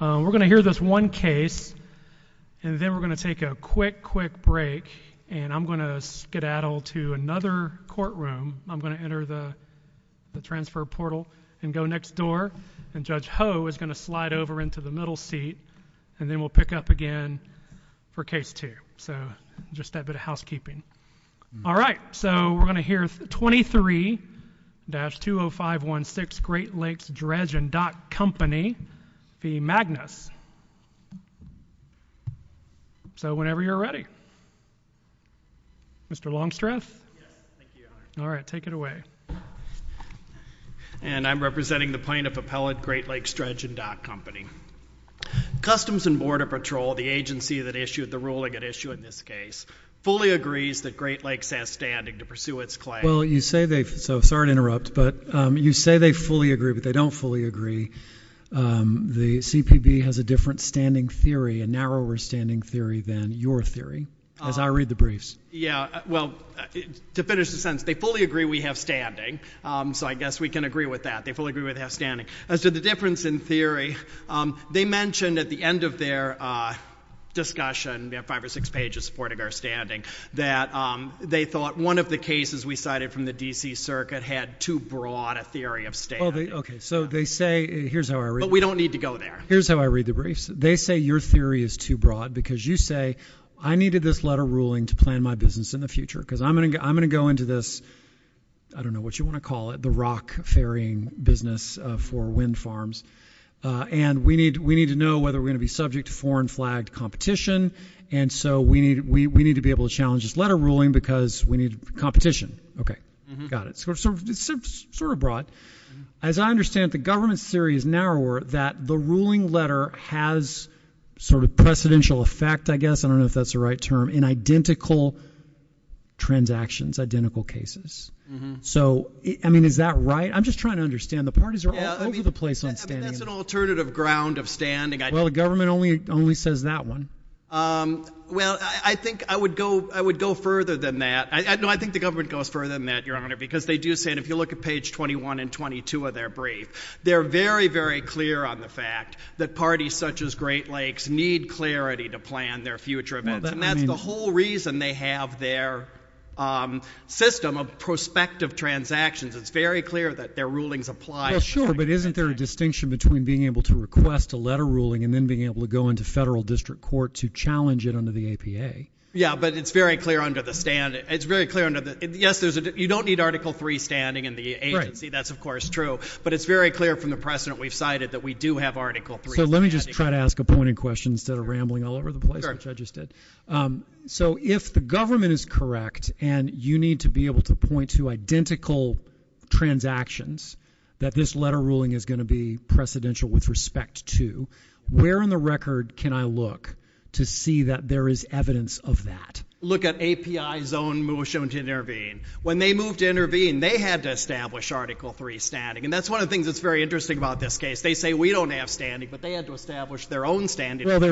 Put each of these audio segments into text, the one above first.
We're going to hear this one case, and then we're going to take a quick quick break, and I'm going to skedaddle to another courtroom. I'm going to enter the transfer portal and go next door. And Judge Ho is going to slide over into the middle seat, and then we'll pick up again for case two. So, just that bit of housekeeping. All right, so we're going to hear 23-20516 Great Lakes Dredge and Dock Company v. Magnus. So, whenever you're ready. Mr. Longstreth? Yes, thank you. All right, take it away. And I'm representing the plaintiff appellate Great Lakes Dredge and Dock Company. Customs and Border Patrol, the agency that issued the ruling at issue in this case, fully agrees that Great Lakes has standing to pursue its claim. Well, you say they've – so, sorry to interrupt, but you say they fully agree, but they don't fully agree. The CPB has a different standing theory, a narrower standing theory than your theory, as I read the briefs. Yeah, well, to finish the sentence, they fully agree we have standing, so I guess we can agree with that. They fully agree we have standing. As to the difference in theory, they mentioned at the end of their discussion, we have five or six pages supporting our standing, that they thought one of the cases we cited from the D.C. Circuit had too broad a theory of standing. Okay, so they say – here's how I read it. But we don't need to go there. Here's how I read the briefs. They say your theory is too broad because you say, I needed this letter ruling to plan my business in the future because I'm going to go into this – I don't know what you want to call it, the rock ferrying business for wind farms. And we need to know whether we're going to be subject to foreign flagged competition. And so we need to be able to challenge this letter ruling because we need competition. Okay, got it. So it's sort of broad. As I understand it, the government's theory is narrower that the ruling letter has sort of precedential effect, I guess. I don't know if that's the right term, in identical transactions, identical cases. So, I mean, is that right? I'm just trying to understand. The parties are all over the place on standing. That's an alternative ground of standing. Well, the government only says that one. Well, I think I would go further than that. No, I think the government goes further than that, Your Honor, because they do say – and if you look at page 21 and 22 of their brief, they're very, very clear on the fact that parties such as Great Lakes need clarity to plan their future events. And that's the whole reason they have their system of prospective transactions. It's very clear that their rulings apply. Well, sure, but isn't there a distinction between being able to request a letter ruling and then being able to go into federal district court to challenge it under the APA? Yeah, but it's very clear under the – yes, you don't need Article III standing in the agency. That's, of course, true. But it's very clear from the precedent we've cited that we do have Article III standing. So let me just try to ask a pointed question instead of rambling all over the place, which I just did. So if the government is correct and you need to be able to point to identical transactions that this letter ruling is going to be precedential with respect to, where on the record can I look to see that there is evidence of that? Look at API's own motion to intervene. When they moved to intervene, they had to establish Article III standing. And that's one of the things that's very interesting about this case. They say we don't have standing, but they had to establish their own standing. Well, I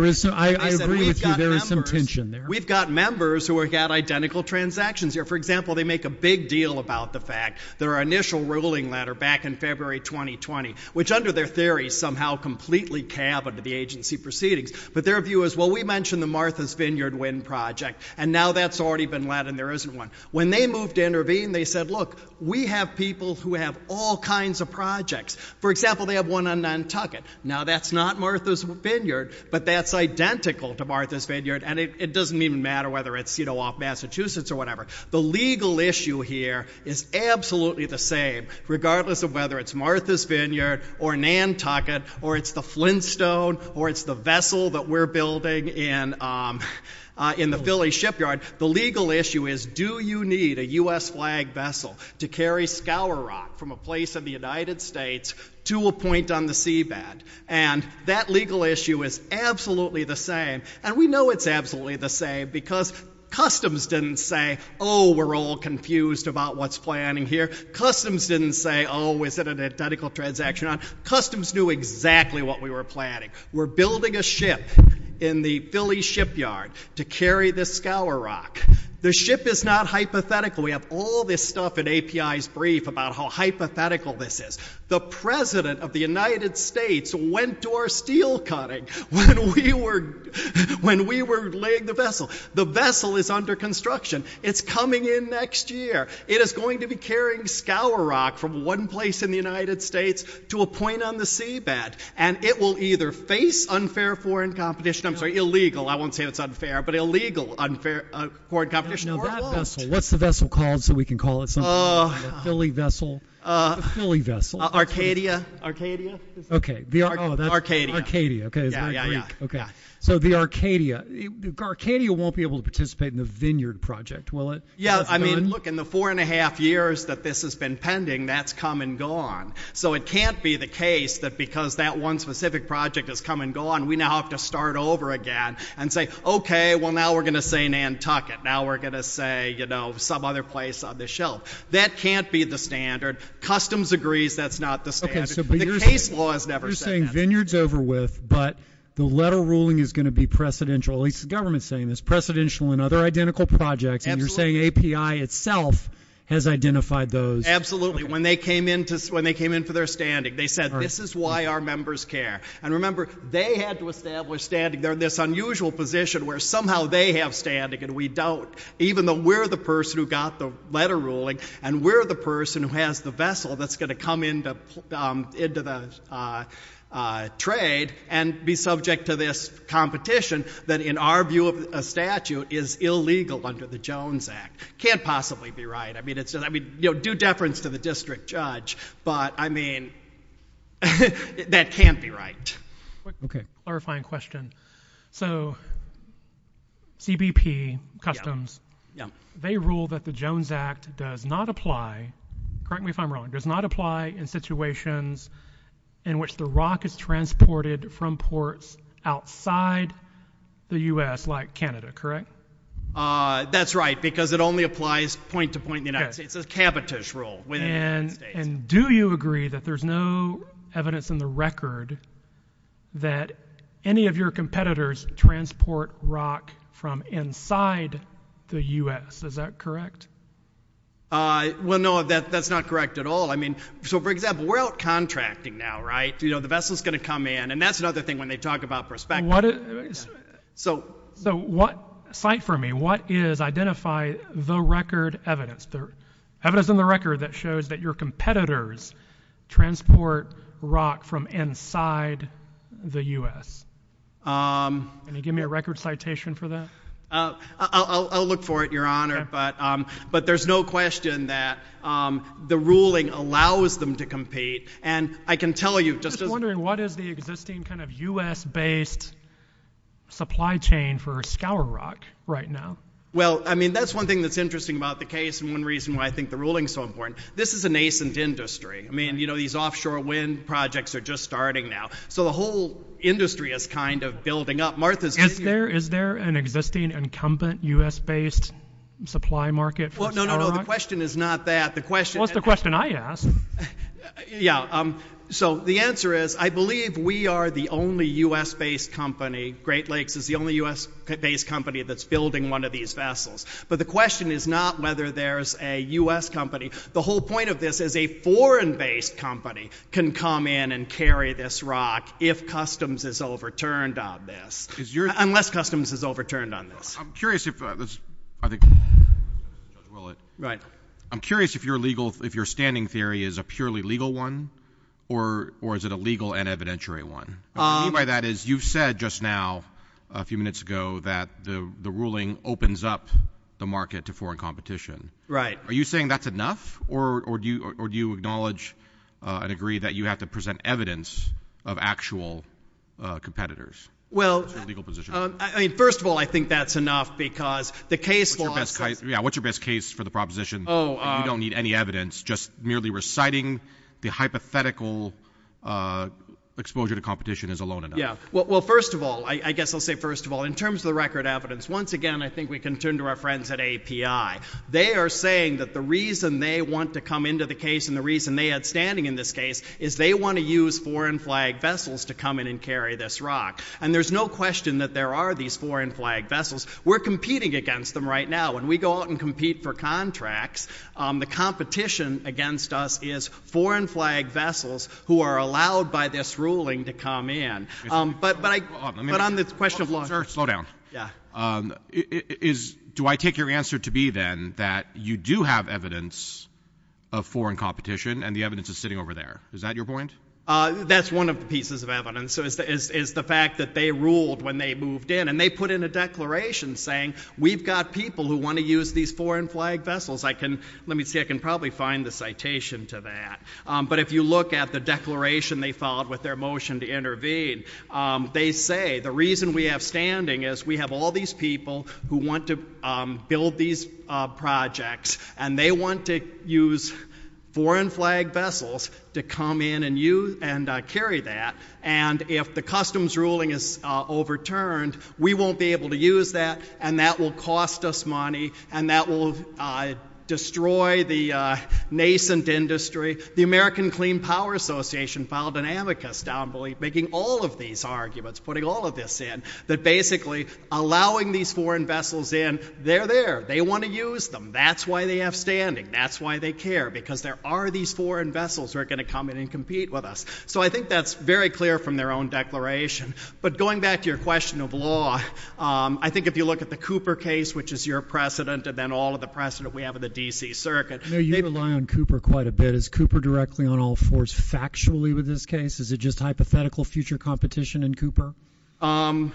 agree with you. There is some tension there. We've got members who have got identical transactions. For example, they make a big deal about the fact their initial ruling letter back in February 2020, which under their theory somehow completely cab into the agency proceedings. But their view is, well, we mentioned the Martha's Vineyard Wind Project, and now that's already been let and there isn't one. When they moved to intervene, they said, look, we have people who have all kinds of projects. For example, they have one on Nantucket. Now, that's not Martha's Vineyard, but that's identical to Martha's Vineyard, and it doesn't even matter whether it's off Massachusetts or whatever. The legal issue here is absolutely the same, regardless of whether it's Martha's Vineyard or Nantucket or it's the Flintstone or it's the vessel that we're building in the Philly shipyard. The legal issue is, do you need a U.S. flag vessel to carry scour rock from a place in the United States to a point on the seabed? And that legal issue is absolutely the same, and we know it's absolutely the same because customs didn't say, oh, we're all confused about what's planning here. Customs didn't say, oh, is it an identical transaction? Customs knew exactly what we were planning. We're building a ship in the Philly shipyard to carry the scour rock. The ship is not hypothetical. We have all this stuff in API's brief about how hypothetical this is. The president of the United States went to our steel cutting when we were laying the vessel. The vessel is under construction. It's coming in next year. It is going to be carrying scour rock from one place in the United States to a point on the seabed, and it will either face unfair foreign competition. I'm sorry, illegal. I won't say it's unfair, but illegal foreign competition or it won't. What's the vessel called so we can call it something? Philly vessel. Arcadia. Arcadia. Okay. Arcadia. Arcadia. So the Arcadia. Arcadia won't be able to participate in the vineyard project, will it? Yeah. I mean, look, in the four and a half years that this has been pending, that's come and gone. So it can't be the case that because that one specific project has come and gone, we now have to start over again and say, okay, well, now we're going to say Nantucket. Now we're going to say, you know, some other place on this shelf. That can't be the standard. Customs agrees that's not the standard. The case law has never said that. You're saying vineyard's over with, but the letter ruling is going to be precedential. At least the government's saying this. Precedential and other identical projects. And you're saying API itself has identified those. Absolutely. When they came in for their standing, they said, this is why our members care. And remember, they had to establish standing. They're in this unusual position where somehow they have standing and we don't, even though we're the person who got the letter ruling and we're the person who has the vessel that's going to come into the trade and be subject to this competition that, in our view of a statute, is illegal under the Jones Act. Can't possibly be right. I mean, due deference to the district judge, but, I mean, that can't be right. Okay. Clarifying question. So CBP, Customs, they rule that the Jones Act does not apply, correct me if I'm wrong, does not apply in situations in which the rock is transported from ports outside the U.S., like Canada, correct? That's right, because it only applies point to point in the United States. It's a cabotage rule within the United States. And do you agree that there's no evidence in the record that any of your competitors transport rock from inside the U.S.? Is that correct? Well, no, that's not correct at all. I mean, so, for example, we're out contracting now, right? You know, the vessel's going to come in. And that's another thing when they talk about perspective. So cite for me, what is, identify the record evidence, evidence in the record that shows that your competitors transport rock from inside the U.S.? Can you give me a record citation for that? I'll look for it, Your Honor. But there's no question that the ruling allows them to compete. I'm just wondering, what is the existing kind of U.S.-based supply chain for scour rock right now? Well, I mean, that's one thing that's interesting about the case and one reason why I think the ruling's so important. This is a nascent industry. I mean, you know, these offshore wind projects are just starting now. So the whole industry is kind of building up. Is there an existing incumbent U.S.-based supply market for scour rock? Well, no, no, no, the question is not that. What's the question I ask? Yeah, so the answer is I believe we are the only U.S.-based company. Great Lakes is the only U.S.-based company that's building one of these vessels. But the question is not whether there's a U.S. company. The whole point of this is a foreign-based company can come in and carry this rock if customs is overturned on this. Unless customs is overturned on this. I'm curious if this, I think. Right. I'm curious if your legal, if your standing theory is a purely legal one or is it a legal and evidentiary one? What I mean by that is you've said just now a few minutes ago that the ruling opens up the market to foreign competition. Right. Are you saying that's enough or do you acknowledge and agree that you have to present evidence of actual competitors? Well, I mean, first of all, I think that's enough because the case law says. Yeah, what's your best case for the proposition? You don't need any evidence. Just merely reciting the hypothetical exposure to competition is alone enough. Yeah. Well, first of all, I guess I'll say first of all, in terms of the record evidence, once again, I think we can turn to our friends at API. They are saying that the reason they want to come into the case and the reason they had standing in this case is they want to use foreign-flagged vessels to come in and carry this rock. And there's no question that there are these foreign-flagged vessels. We're competing against them right now. When we go out and compete for contracts, the competition against us is foreign-flagged vessels who are allowed by this ruling to come in. But on the question of law. Sir, slow down. Yeah. Do I take your answer to be then that you do have evidence of foreign competition and the evidence is sitting over there? Is that your point? That's one of the pieces of evidence, is the fact that they ruled when they moved in. And they put in a declaration saying we've got people who want to use these foreign-flagged vessels. Let me see. I can probably find the citation to that. But if you look at the declaration they filed with their motion to intervene, they say the reason we have standing is we have all these people who want to build these projects. And they want to use foreign-flagged vessels to come in and carry that. And if the customs ruling is overturned, we won't be able to use that. And that will cost us money. And that will destroy the nascent industry. The American Clean Power Association filed an amicus making all of these arguments, putting all of this in, that basically allowing these foreign vessels in, they're there. They want to use them. That's why they have standing. That's why they care. Because there are these foreign vessels who are going to come in and compete with us. So I think that's very clear from their own declaration. But going back to your question of law, I think if you look at the Cooper case, which is your precedent, and then all of the precedent we have in the D.C. Circuit. You rely on Cooper quite a bit. Is Cooper directly on all fours factually with this case? Is it just hypothetical future competition in Cooper? I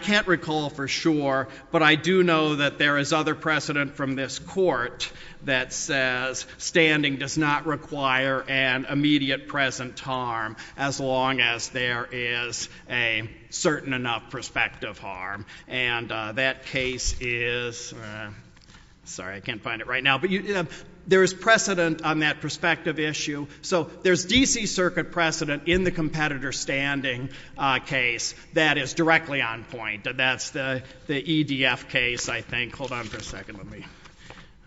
can't recall for sure. But I do know that there is other precedent from this court that says standing does not require an immediate present harm as long as there is a certain enough prospective harm. And that case is ‑‑ sorry, I can't find it right now. But there is precedent on that prospective issue. So there's D.C. Circuit precedent in the competitor standing case that is directly on point. That's the EDF case, I think. Hold on for a second. Let me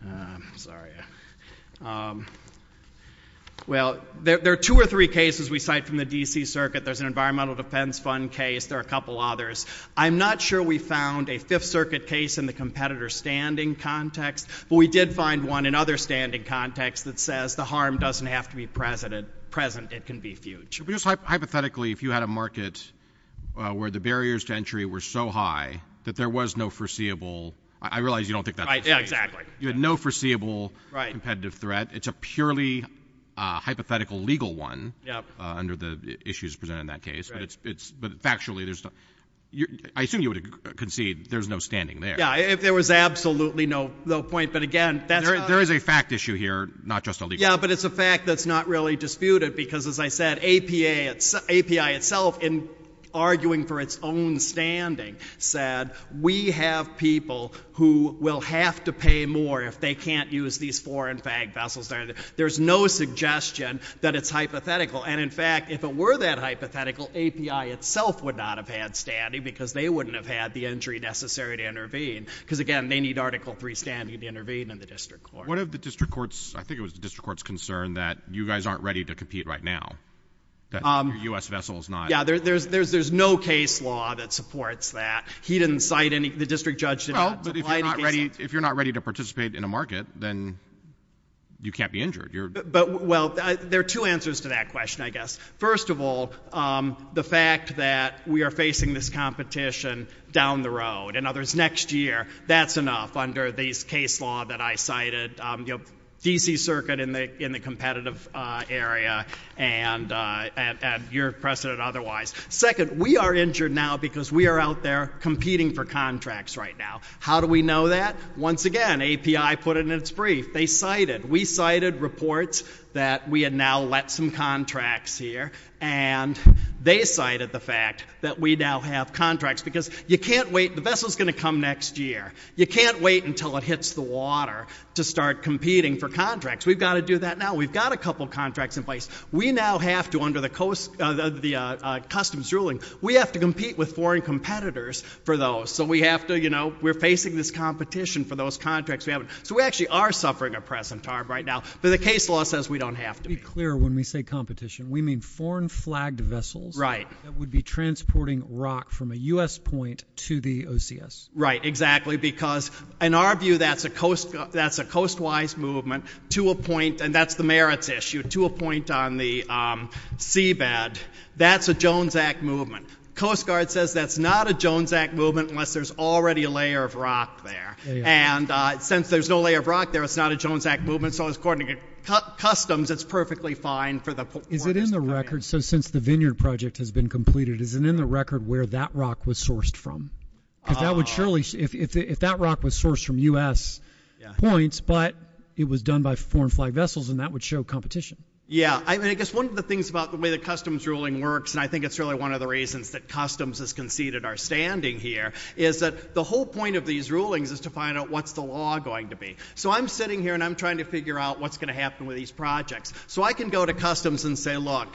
‑‑ sorry. Well, there are two or three cases we cite from the D.C. Circuit. There's an environmental defense fund case. There are a couple others. I'm not sure we found a Fifth Circuit case in the competitor standing context. But we did find one in other standing context that says the harm doesn't have to be present. It can be future. Hypothetically, if you had a market where the barriers to entry were so high that there was no foreseeable ‑‑ I realize you don't think that's the case. Yeah, exactly. You had no foreseeable competitive threat. It's a purely hypothetical legal one under the issues presented in that case. But factually, I assume you would concede there's no standing there. Yeah, if there was absolutely no point. But, again, that's not ‑‑ There is a fact issue here, not just a legal one. Yeah, but it's a fact that's not really disputed because, as I said, API itself, in arguing for its own standing, said we have people who will have to pay more if they can't use these foreign fag vessels. There's no suggestion that it's hypothetical. And, in fact, if it were that hypothetical, API itself would not have had standing because they wouldn't have had the entry necessary to intervene. Because, again, they need Article III standing to intervene in the district court. What if the district court's ‑‑ I think it was the district court's concern that you guys aren't ready to compete right now? That your U.S. vessel is not ‑‑ Yeah, there's no case law that supports that. He didn't cite any ‑‑ the district judge didn't apply any cases. Well, but if you're not ready to participate in a market, then you can't be injured. But, well, there are two answers to that question, I guess. First of all, the fact that we are facing this competition down the road, in other words, next year, that's enough under this case law that I cited, you know, D.C. Circuit in the competitive area and your precedent otherwise. Second, we are injured now because we are out there competing for contracts right now. How do we know that? Once again, API put it in its brief. They cited, we cited reports that we had now let some contracts here, and they cited the fact that we now have contracts because you can't wait. The vessel's going to come next year. You can't wait until it hits the water to start competing for contracts. We've got to do that now. We've got a couple of contracts in place. We now have to, under the customs ruling, we have to compete with foreign competitors for those. So we have to, you know, we're facing this competition for those contracts we have. So we actually are suffering a present harm right now, but the case law says we don't have to be. To be clear, when we say competition, we mean foreign flagged vessels. That would be transporting rock from a U.S. point to the OCS. Right, exactly, because in our view, that's a coastwise movement to a point, and that's the merits issue, to a point on the seabed, that's a Jones Act movement. Coast Guard says that's not a Jones Act movement unless there's already a layer of rock there. And since there's no layer of rock there, it's not a Jones Act movement. So, according to customs, it's perfectly fine for the foreigners to come here. Is it in the record, so since the vineyard project has been completed, is it in the record where that rock was sourced from? Because that would surely, if that rock was sourced from U.S. points, but it was done by foreign flagged vessels, then that would show competition. Yeah, I mean, I guess one of the things about the way the customs ruling works, and I think it's really one of the reasons that customs has conceded our standing here, is that the whole point of these rulings is to find out what's the law going to be. So I'm sitting here and I'm trying to figure out what's going to happen with these projects. So I can go to customs and say, look,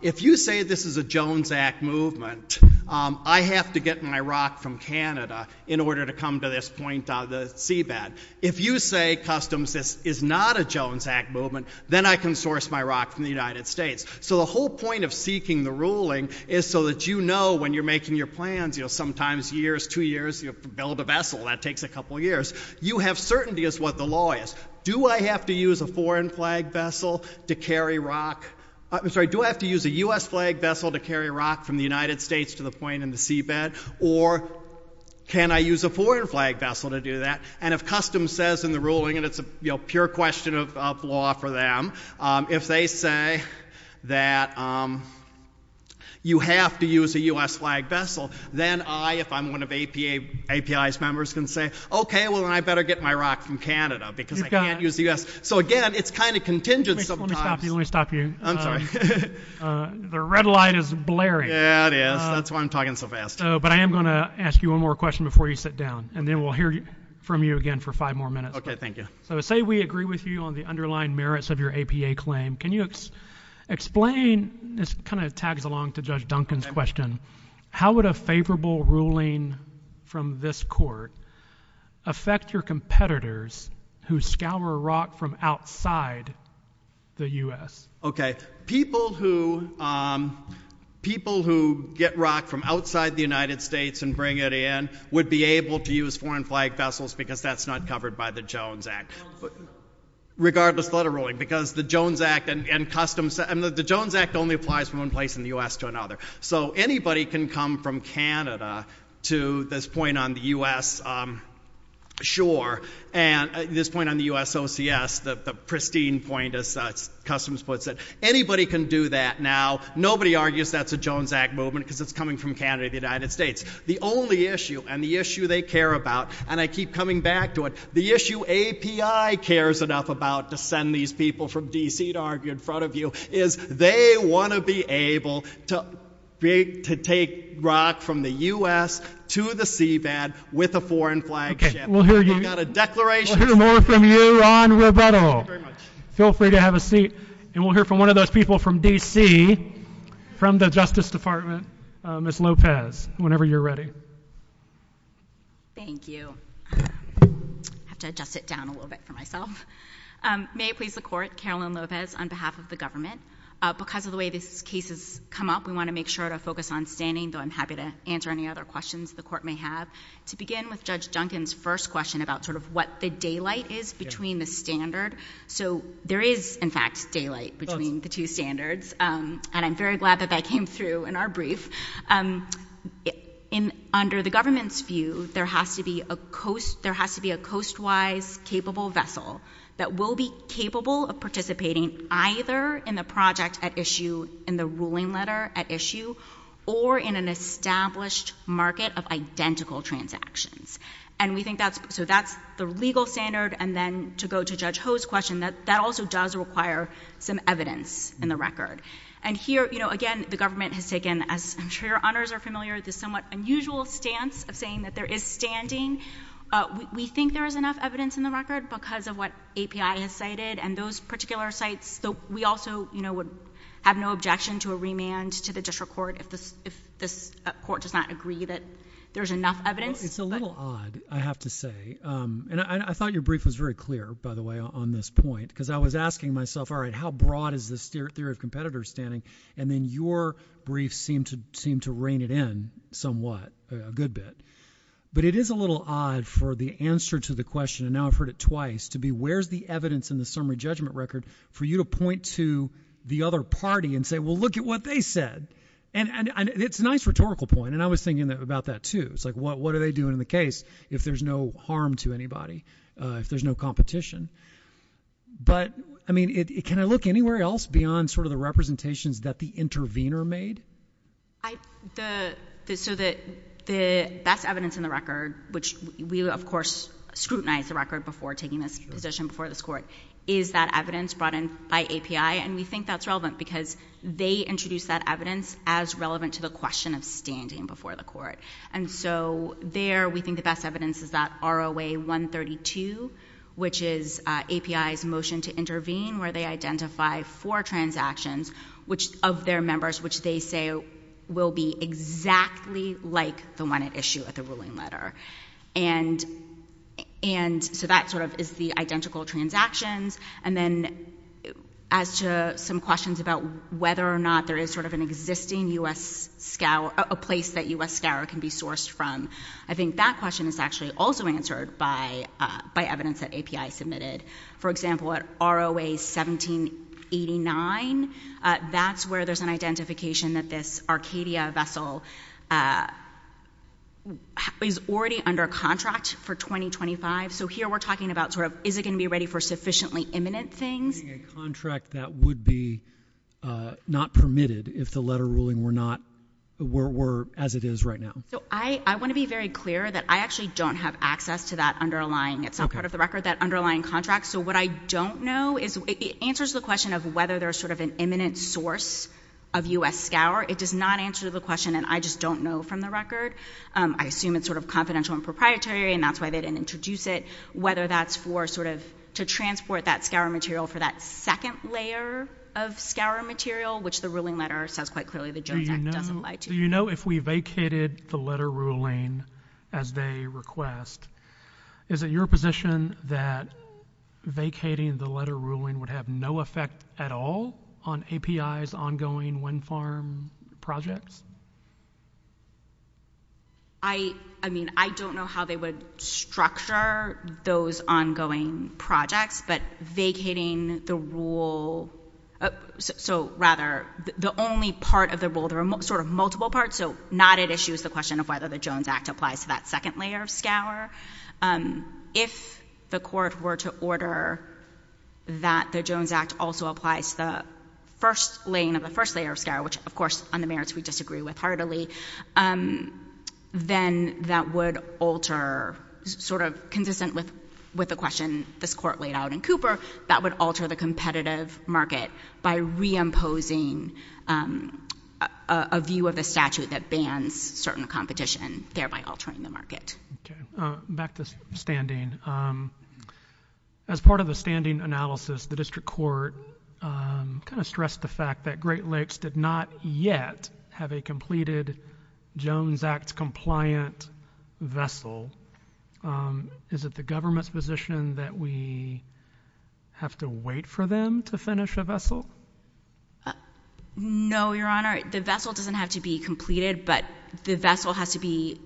if you say this is a Jones Act movement, I have to get my rock from Canada in order to come to this point on the seabed. If you say, customs, this is not a Jones Act movement, then I can source my rock from the United States. So the whole point of seeking the ruling is so that you know when you're making your plans, you know, sometimes years, two years, you build a vessel, that takes a couple years, you have certainty as to what the law is. Do I have to use a foreign flagged vessel to carry rock? I'm sorry, do I have to use a U.S. flagged vessel to carry rock from the United States to the point in the seabed? Or can I use a foreign flagged vessel to do that? And if customs says in the ruling, and it's a pure question of law for them, if they say that you have to use a U.S. flagged vessel, then I, if I'm one of API's members, can say, okay, well, then I better get my rock from Canada because I can't use the U.S. So, again, it's kind of contingent sometimes. Let me stop you. I'm sorry. The red light is blaring. Yeah, it is. That's why I'm talking so fast. But I am going to ask you one more question before you sit down, and then we'll hear from you again for five more minutes. Okay, thank you. So say we agree with you on the underlying merits of your APA claim. Can you explain, this kind of tags along to Judge Duncan's question, how would a favorable ruling from this court affect your competitors who scour rock from outside the U.S.? Okay, people who get rock from outside the United States and bring it in would be able to use foreign flagged vessels because that's not covered by the Jones Act, regardless of the letter ruling, because the Jones Act and Customs, the Jones Act only applies from one place in the U.S. to another. So anybody can come from Canada to this point on the U.S. shore, and this point on the U.S. OCS, the pristine point, as Customs puts it. Anybody can do that now. Nobody argues that's a Jones Act movement because it's coming from Canada, the United States. The only issue, and the issue they care about, and I keep coming back to it, the issue API cares enough about to send these people from D.C. to argue in front of you is they want to be able to take rock from the U.S. to the seabed with a foreign flagged ship. We've got a declaration. We'll hear more from you on rebuttal. Thank you very much. Feel free to have a seat, and we'll hear from one of those people from D.C., from the Justice Department, Ms. Lopez, whenever you're ready. Thank you. I have to adjust it down a little bit for myself. May it please the Court, Carolyn Lopez on behalf of the government, because of the way these cases come up, we want to make sure to focus on standing, though I'm happy to answer any other questions the Court may have. To begin with Judge Duncan's first question about sort of what the daylight is between the standard. So there is, in fact, daylight between the two standards, and I'm very glad that that came through in our brief. Under the government's view, there has to be a coastwise capable vessel that will be capable of participating either in the project at issue, in the ruling letter at issue, or in an established market of identical transactions. So that's the legal standard. And then to go to Judge Ho's question, that also does require some evidence in the record. And here, again, the government has taken, as I'm sure your honors are familiar, the somewhat unusual stance of saying that there is standing. We think there is enough evidence in the record because of what API has cited, and those particular sites, though we also would have no objection to a remand to the district court if this court does not agree that there's enough evidence. It's a little odd, I have to say. And I thought your brief was very clear, by the way, on this point, because I was asking myself, all right, how broad is this theory of competitors standing? And then your brief seemed to reign it in somewhat, a good bit. But it is a little odd for the answer to the question, and now I've heard it twice, to be where's the evidence in the summary judgment record for you to point to the other party and say, well, look at what they said. And it's a nice rhetorical point, and I was thinking about that, too. It's like what are they doing in the case if there's no harm to anybody, if there's no competition? But, I mean, can I look anywhere else beyond sort of the representations that the intervener made? So that's evidence in the record, which we, of course, scrutinize the record before taking this position, before this court, is that evidence brought in by API, and we think that's relevant because they introduced that evidence as relevant to the question of standing before the court. And so there we think the best evidence is that ROA 132, which is API's motion to intervene, where they identify four transactions of their members, which they say will be exactly like the one at issue at the ruling letter. And so that sort of is the identical transactions. And then as to some questions about whether or not there is sort of an existing U.S. scour, a place that U.S. scour can be sourced from, I think that question is actually also answered by evidence that API submitted. For example, at ROA 1789, that's where there's an identification that this Arcadia vessel is already under contract for 2025. So here we're talking about sort of is it going to be ready for sufficiently imminent things? So you're saying a contract that would be not permitted if the letter ruling were as it is right now? So I want to be very clear that I actually don't have access to that underlying. It's not part of the record, that underlying contract. So what I don't know is it answers the question of whether there's sort of an imminent source of U.S. scour. It does not answer the question, and I just don't know from the record. I assume it's sort of confidential and proprietary, and that's why they didn't introduce it, whether that's for sort of to transport that scour material for that second layer of scour material, which the ruling letter says quite clearly the Jones Act doesn't apply to. Do you know if we vacated the letter ruling as they request, is it your position that vacating the letter ruling would have no effect at all on API's ongoing wind farm projects? I mean, I don't know how they would structure those ongoing projects, but vacating the rule, so rather the only part of the rule, there are sort of multiple parts, so not at issue is the question of whether the Jones Act applies to that second layer of scour. If the court were to order that the Jones Act also applies to the first laying of the first layer of scour, which of course on the merits we disagree with heartily, then that would alter sort of consistent with the question this court laid out in Cooper, that would alter the competitive market by reimposing a view of the statute that bans certain competition, thereby altering the market. Back to standing. As part of the standing analysis, the district court kind of stressed the fact that Great Lakes did not yet have a completed Jones Act compliant vessel. Is it the government's position that we have to wait for them to finish a vessel? No, Your Honor, the vessel doesn't have to be completed, but the vessel has to be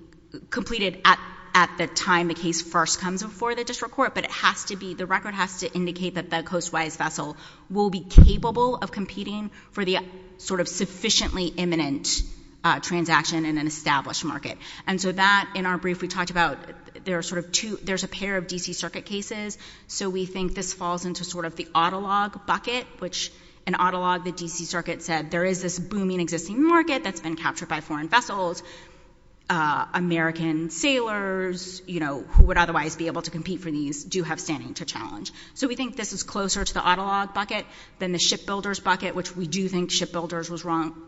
completed at the time the case first comes before the district court, but it has to be, the record has to indicate that the coast-wise vessel will be capable of competing for the sort of sufficiently imminent transaction in an established market. And so that, in our brief, we talked about there are sort of two, there's a pair of D.C. Circuit cases, so we think this falls into sort of the auto log bucket, which in auto log, the D.C. Circuit said there is this booming existing market that's been captured by foreign vessels. American sailors, you know, who would otherwise be able to compete for these, do have standing to challenge. So we think this is closer to the auto log bucket than the shipbuilders bucket, which we do think shipbuilders was wrong,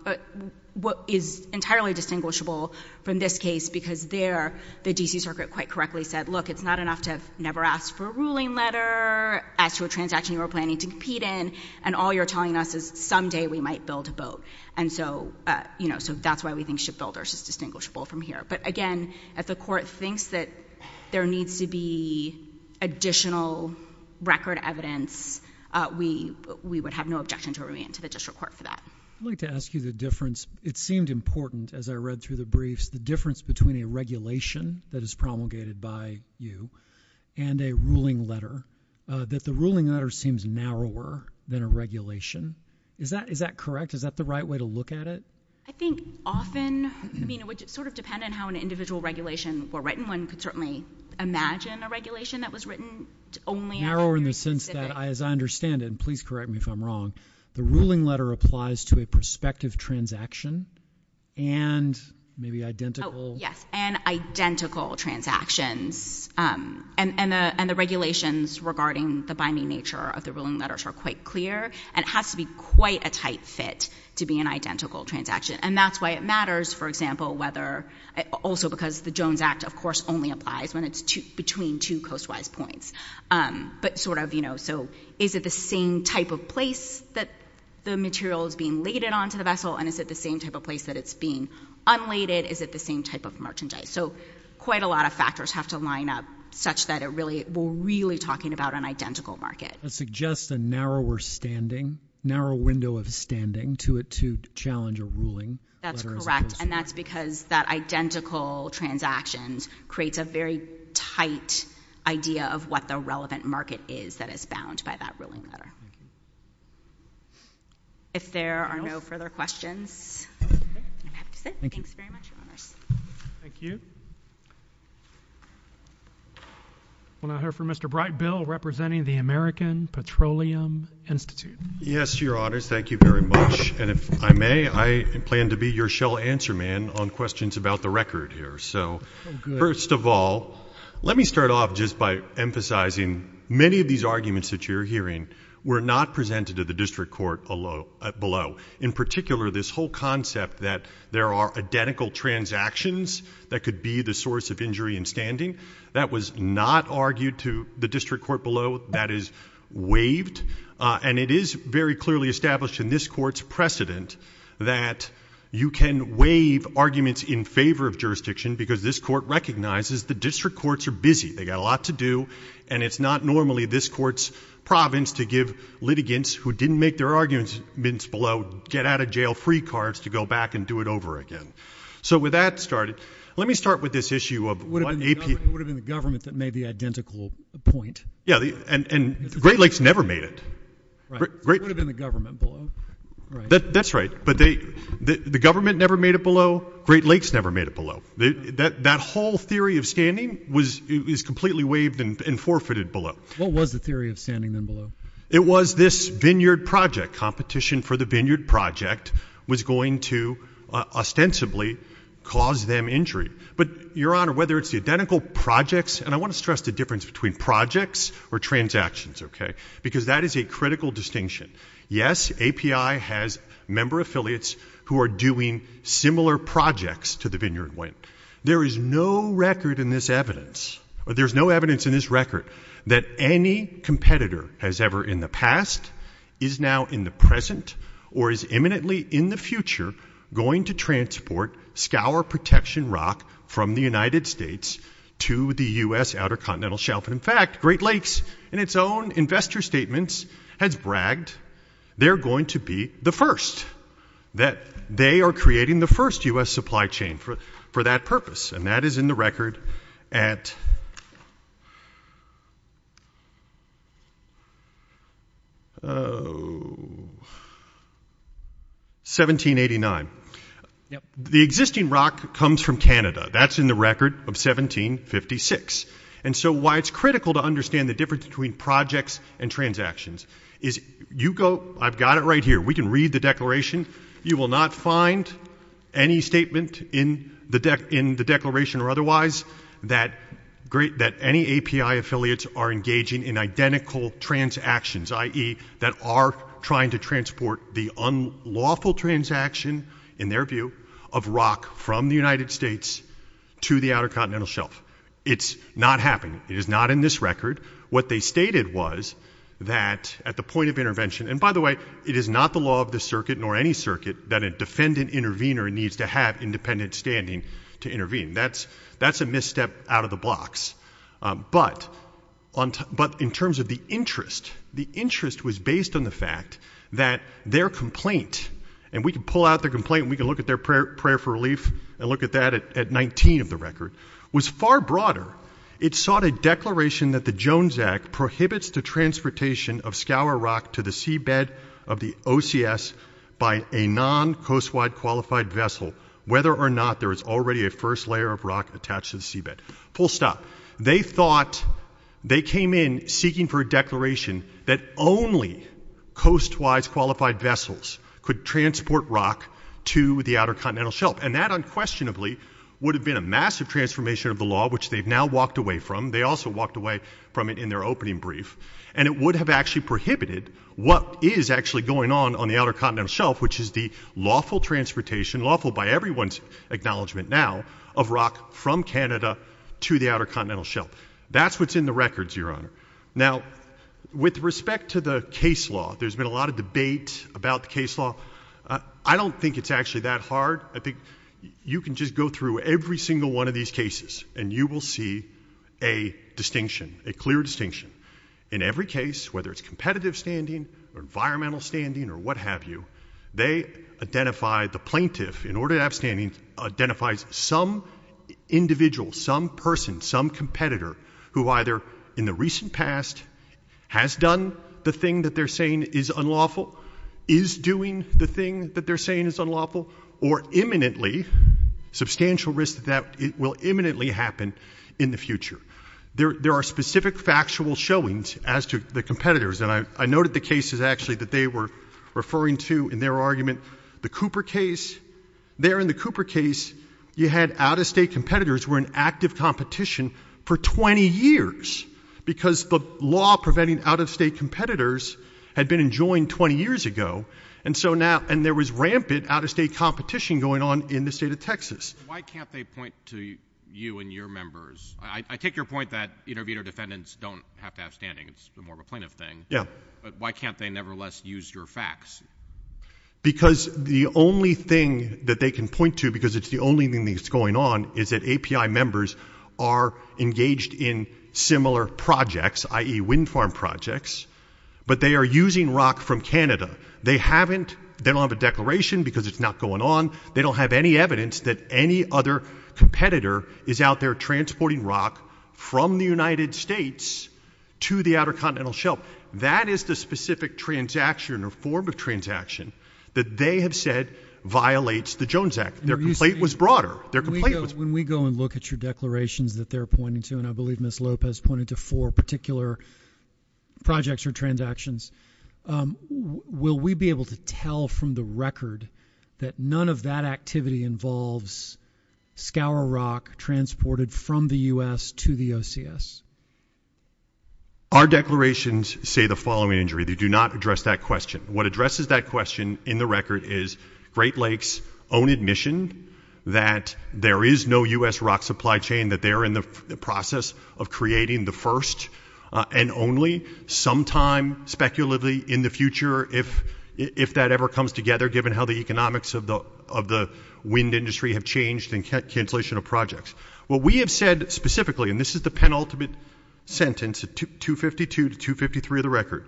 but is entirely distinguishable from this case, because there the D.C. Circuit quite correctly said, look, it's not enough to have never asked for a ruling letter, asked for a transaction you were planning to compete in, and all you're telling us is someday we might build a boat. And so, you know, so that's why we think shipbuilders is distinguishable from here. But again, if the court thinks that there needs to be additional record evidence, we would have no objection to a remand to the district court for that. I'd like to ask you the difference. It seemed important, as I read through the briefs, the difference between a regulation that is promulgated by you and a ruling letter, that the ruling letter seems narrower than a regulation. Is that correct? Is that the right way to look at it? I think often, I mean, it would sort of depend on how an individual regulation were written. One could certainly imagine a regulation that was written only on a very specific – Narrower in the sense that, as I understand it, and please correct me if I'm wrong, the ruling letter applies to a prospective transaction and maybe identical – and the regulations regarding the binding nature of the ruling letters are quite clear and it has to be quite a tight fit to be an identical transaction. And that's why it matters, for example, whether – also because the Jones Act, of course, only applies when it's between two coast-wise points. But sort of, you know, so is it the same type of place that the material is being laded onto the vessel and is it the same type of place that it's being unladed? Is it the same type of merchandise? So quite a lot of factors have to line up such that it really – we're really talking about an identical market. That suggests a narrower standing, narrow window of standing to it to challenge a ruling. That's correct. And that's because that identical transaction creates a very tight idea of what the relevant market is that is bound by that ruling letter. If there are no further questions, I'm happy to sit. Thanks very much, Your Honors. Thank you. I want to hear from Mr. Brightbill representing the American Petroleum Institute. Yes, Your Honors. Thank you very much. And if I may, I plan to be your shell answer man on questions about the record here. So first of all, let me start off just by emphasizing many of these arguments that you're hearing were not presented to the district court below. In particular, this whole concept that there are identical transactions that could be the source of injury in standing. That was not argued to the district court below. That is waived. And it is very clearly established in this court's precedent that you can waive arguments in favor of jurisdiction because this court recognizes the district courts are busy. They've got a lot to do. And it's not normally this court's province to give litigants who didn't make their arguments below get out of jail free cards to go back and do it over again. So with that started, let me start with this issue of what AP. It would have been the government that made the identical point. Yeah, and Great Lakes never made it. It would have been the government below. That's right. But the government never made it below. Great Lakes never made it below. That whole theory of standing is completely waived and forfeited below. What was the theory of standing then below? It was this vineyard project. Competition for the vineyard project was going to ostensibly cause them injury. But, Your Honor, whether it's the identical projects, and I want to stress the difference between projects or transactions, okay, because that is a critical distinction. Yes, API has member affiliates who are doing similar projects to the vineyard wind. There is no record in this evidence, or there's no evidence in this record, that any competitor as ever in the past is now in the present or is imminently in the future going to transport scour protection rock from the United States to the U.S. outer continental shelf. In fact, Great Lakes in its own investor statements has bragged they're going to be the first, that they are creating the first U.S. supply chain for that purpose, and that is in the record at 1789. The existing rock comes from Canada. That's in the record of 1756. And so why it's critical to understand the difference between projects and transactions is you go, I've got it right here, we can read the declaration, you will not find any statement in the declaration or otherwise that any API affiliates are engaging in identical transactions, i.e., that are trying to transport the unlawful transaction, in their view, of rock from the United States to the outer continental shelf. It's not happening. It is not in this record. What they stated was that at the point of intervention, and by the way, it is not the law of the circuit nor any circuit that a defendant intervener needs to have independent standing to intervene. That's a misstep out of the box. But in terms of the interest, the interest was based on the fact that their complaint, and we can pull out their complaint and we can look at their prayer for relief and look at that at 19 of the record, was far broader. It sought a declaration that the Jones Act prohibits the transportation of scour rock to the seabed of the OCS by a non-coast-wide qualified vessel, whether or not there is already a first layer of rock attached to the seabed. Full stop. They thought, they came in seeking for a declaration that only coast-wise qualified vessels could transport rock to the outer continental shelf. And that unquestionably would have been a massive transformation of the law, which they've now walked away from. They also walked away from it in their opening brief. And it would have actually prohibited what is actually going on on the outer continental shelf, which is the lawful transportation, lawful by everyone's acknowledgement now, of rock from Canada to the outer continental shelf. That's what's in the records, Your Honor. Now, with respect to the case law, there's been a lot of debate about the case law. I don't think it's actually that hard. I think you can just go through every single one of these cases, and you will see a distinction, a clear distinction. In every case, whether it's competitive standing or environmental standing or what have you, they identify the plaintiff in order to have standing identifies some individual, some person, some competitor who either in the recent past has done the thing that they're saying is unlawful, is doing the thing that they're saying is unlawful, or imminently, substantial risk that that will imminently happen in the future. There are specific factual showings as to the competitors, and I noted the cases actually that they were referring to in their argument. The Cooper case, there in the Cooper case, you had out-of-state competitors who were in active competition for 20 years because the law preventing out-of-state competitors had been enjoined 20 years ago, and there was rampant out-of-state competition going on in the state of Texas. Why can't they point to you and your members? I take your point that intervener defendants don't have to have standing. It's more of a plaintiff thing. Yeah. But why can't they nevertheless use your facts? Because the only thing that they can point to, because it's the only thing that's going on, is that API members are engaged in similar projects, i.e., wind farm projects, but they are using rock from Canada. They don't have a declaration because it's not going on. They don't have any evidence that any other competitor is out there transporting rock from the United States to the Outer Continental Shelf. That is the specific transaction or form of transaction that they have said violates the Jones Act. Their complaint was broader. When we go and look at your declarations that they're pointing to, and I believe Ms. Lopez pointed to four particular projects or transactions, will we be able to tell from the record that none of that activity involves scour rock transported from the U.S. to the OCS? Our declarations say the following, injury. They do not address that question. What addresses that question in the record is Great Lakes' own admission that there is no U.S. rock supply chain, that they're in the process of creating the first and only sometime speculatively in the future, if that ever comes together, given how the economics of the wind industry have changed and cancellation of projects. What we have said specifically, and this is the penultimate sentence, 252 to 253 of the record,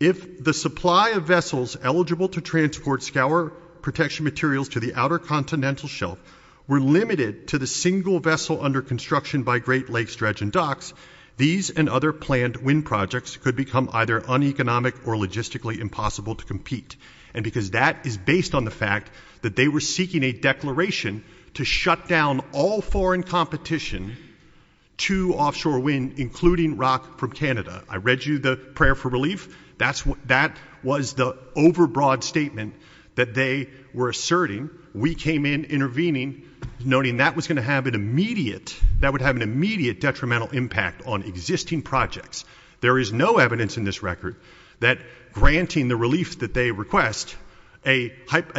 if the supply of vessels eligible to transport scour protection materials to the Outer Continental Shelf were limited to the single vessel under construction by Great Lakes Dredge and Docks, these and other planned wind projects could become either uneconomic or logistically impossible to compete. And because that is based on the fact that they were seeking a declaration to shut down all foreign competition to offshore wind, including rock from Canada. I read you the prayer for relief. That was the overbroad statement that they were asserting. We came in intervening, noting that was going to have an immediate, that would have an immediate detrimental impact on existing projects. There is no evidence in this record that granting the relief that they request, a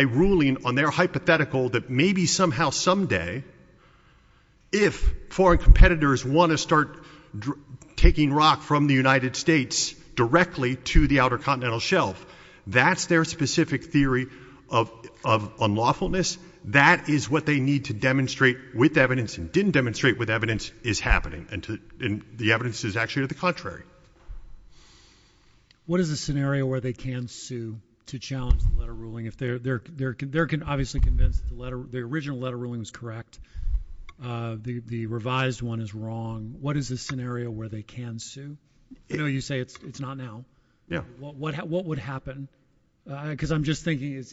ruling on their hypothetical that maybe somehow someday, if foreign competitors want to start taking rock from the United States directly to the Outer Continental Shelf, that's their specific theory of unlawfulness. That is what they need to demonstrate with evidence and didn't demonstrate with evidence is happening. And the evidence is actually to the contrary. What is the scenario where they can sue to challenge the letter ruling? If they're there, they're there can obviously convince the letter. The original letter ruling is correct. The revised one is wrong. What is the scenario where they can sue? You say it's not now. What would happen? Because I'm just thinking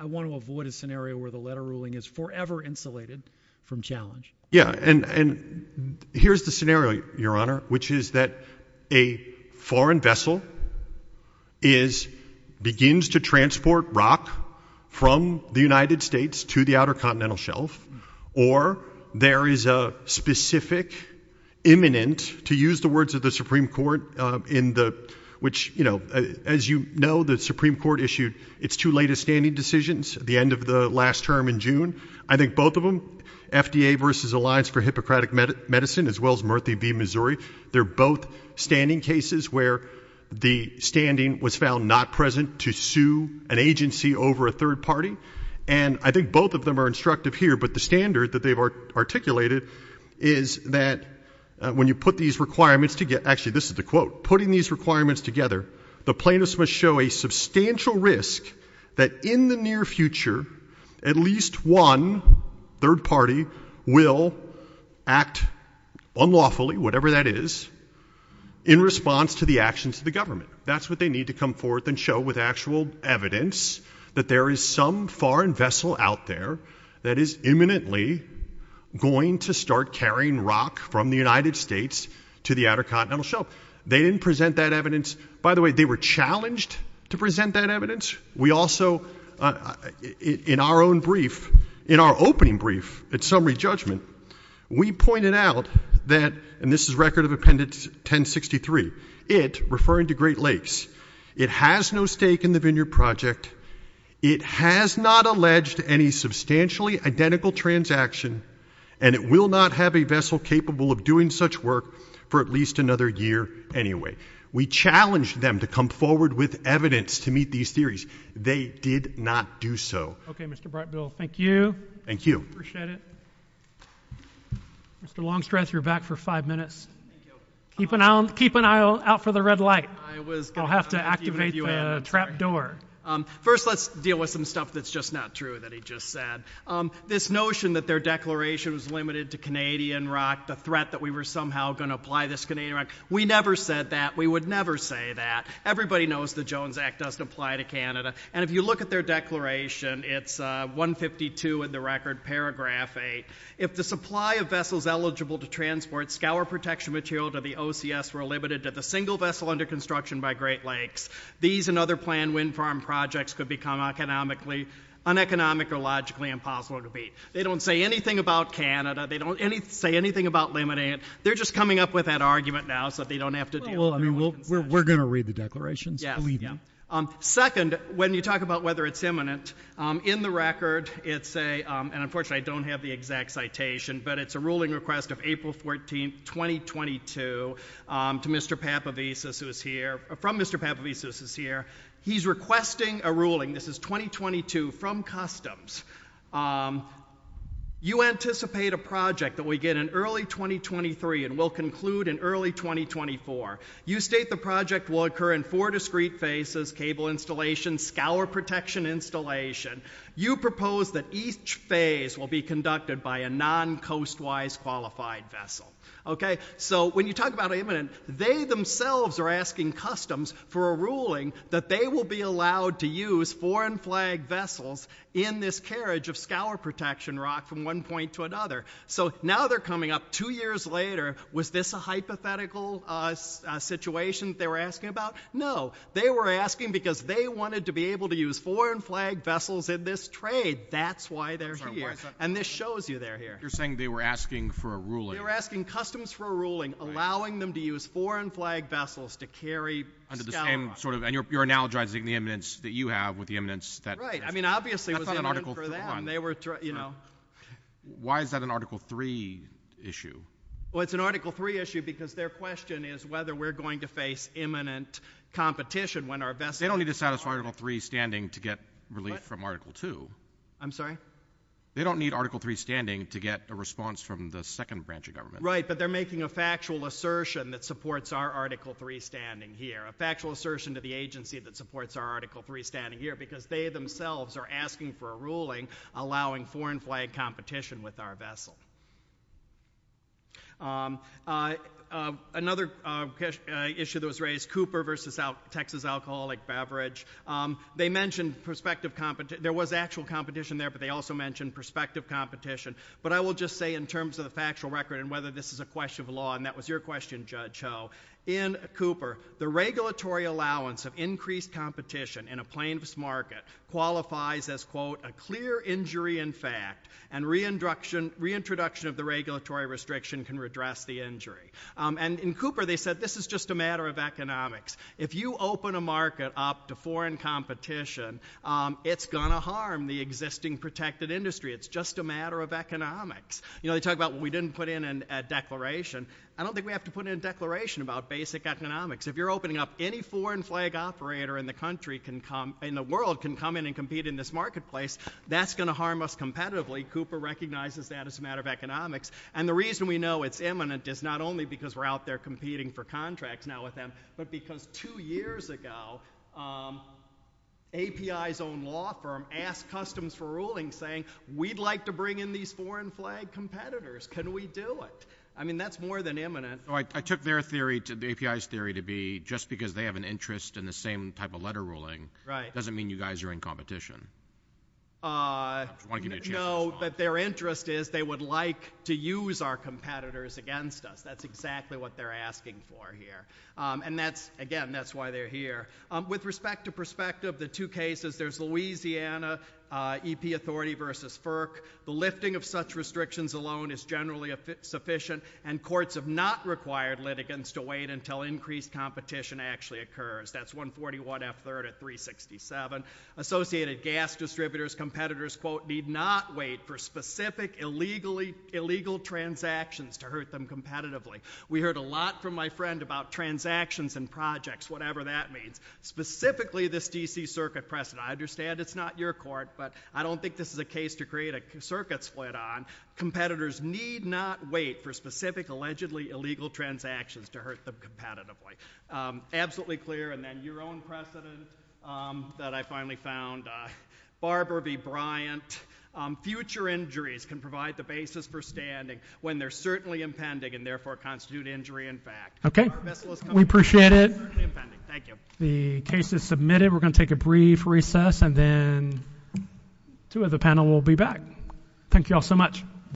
I want to avoid a scenario where the letter ruling is forever insulated from challenge. And here's the scenario, Your Honor, which is that a foreign vessel is, begins to transport rock from the United States to the Outer Continental Shelf, or there is a specific imminent, to use the words of the Supreme Court in the, which, you know, as you know, the Supreme Court issued its two latest standing decisions at the end of the last term in June. I think both of them, FDA versus Alliance for Hippocratic Medicine, as well as Murthy v. Missouri, they're both standing cases where the standing was found not present to sue an agency over a third party. And I think both of them are instructive here. But the standard that they've articulated is that when you put these requirements together, actually this is the quote, putting these requirements together, the plaintiffs must show a substantial risk that in the near future at least one third party will act unlawfully, whatever that is, in response to the actions of the government. That's what they need to come forth and show with actual evidence that there is some foreign vessel out there that is imminently going to start carrying rock from the United States to the Outer Continental Shelf. They didn't present that evidence. By the way, they were challenged to present that evidence. We also, in our own brief, in our opening brief at summary judgment, we pointed out that, and this is Record of Appendix 1063, it, referring to Great Lakes, it has no stake in the Vineyard Project, it has not alleged any substantially identical transaction, and it will not have a vessel capable of doing such work for at least another year anyway. We challenged them to come forward with evidence to meet these theories. They did not do so. Okay, Mr. Brightbill, thank you. Thank you. Appreciate it. Mr. Longstreth, you're back for five minutes. Thank you. Keep an eye out for the red light. I'll have to activate the trap door. First, let's deal with some stuff that's just not true that he just said. This notion that their declaration was limited to Canadian rock, the threat that we were somehow going to apply this Canadian rock, we never said that, we would never say that. Everybody knows the Jones Act doesn't apply to Canada, and if you look at their declaration, it's 152 in the record, paragraph 8. If the supply of vessels eligible to transport scour protection material to the OCS were limited to the single vessel under construction by Great Lakes, these and other planned wind farm projects could become economically, uneconomic or logically impossible to meet. They don't say anything about Canada. They don't say anything about limiting it. They're just coming up with that argument now so they don't have to deal with it. We're going to read the declarations, believe me. Second, when you talk about whether it's imminent, in the record, and unfortunately I don't have the exact citation, but it's a ruling request of April 14, 2022, from Mr. Papavesis who is here. He's requesting a ruling, this is 2022, from Customs. You anticipate a project that we get in early 2023 and will conclude in early 2024. You state the project will occur in four discrete phases, cable installation, scour protection installation. You propose that each phase will be conducted by a non-coast-wise qualified vessel. When you talk about imminent, they themselves are asking Customs for a ruling that they will be allowed to use foreign flag vessels in this carriage of scour protection rock from one point to another. Now they're coming up two years later. Was this a hypothetical situation they were asking about? No. They were asking because they wanted to be able to use foreign flag vessels in this trade. That's why they're here. This shows you they're here. You're saying they were asking for a ruling. They were asking Customs for a ruling allowing them to use foreign flag vessels to carry scour. And you're analogizing the imminence that you have with the imminence that— Right. I mean, obviously it was imminent for them. Why is that an Article 3 issue? Well, it's an Article 3 issue because their question is whether we're going to face imminent competition when our vessel— They don't need to satisfy Article 3 standing to get relief from Article 2. I'm sorry? They don't need Article 3 standing to get a response from the second branch of government. Right, but they're making a factual assertion that supports our Article 3 standing here, a factual assertion to the agency that supports our Article 3 standing here because they themselves are asking for a ruling allowing foreign flag competition with our vessel. Another issue that was raised, Cooper v. Texas Alcoholic Beverage. They mentioned prospective— There was actual competition there, but they also mentioned prospective competition. But I will just say in terms of the factual record and whether this is a question of law, and that was your question, Judge Ho. In Cooper, the regulatory allowance of increased competition in a plaintiff's market qualifies as, quote, a clear injury in fact, and reintroduction of the regulatory restriction can redress the injury. And in Cooper, they said this is just a matter of economics. If you open a market up to foreign competition, it's going to harm the existing protected industry. It's just a matter of economics. You know, they talk about we didn't put in a declaration. I don't think we have to put in a declaration about basic economics. If you're opening up, any foreign flag operator in the world can come in and compete in this marketplace. That's going to harm us competitively. Cooper recognizes that as a matter of economics. And the reason we know it's imminent is not only because we're out there competing for contracts now with them, but because two years ago, API's own law firm asked Customs for Ruling, saying, we'd like to bring in these foreign flag competitors. Can we do it? I mean, that's more than imminent. I took their theory, the API's theory, to be just because they have an interest in the same type of letter ruling, doesn't mean you guys are in competition. No, but their interest is they would like to use our competitors against us. That's exactly what they're asking for here. And that's, again, that's why they're here. With respect to perspective, the two cases, there's Louisiana, EP Authority versus FERC. The lifting of such restrictions alone is generally sufficient, and courts have not required litigants to wait until increased competition actually occurs. That's 141F3 at 367. Associated gas distributors, competitors, quote, need not wait for specific illegal transactions to hurt them competitively. We heard a lot from my friend about transactions and projects, whatever that means, specifically this D.C. Circuit precedent. I understand it's not your court, but I don't think this is a case to create a circuit split on. Competitors need not wait for specific, allegedly illegal transactions to hurt them competitively. Absolutely clear. And then your own precedent that I finally found, Barber v. Bryant. Future injuries can provide the basis for standing when they're certainly impending and therefore constitute injury in fact. Okay. We appreciate it. Thank you. The case is submitted. We're going to take a brief recess, and then two of the panel will be back. Thank you all so much.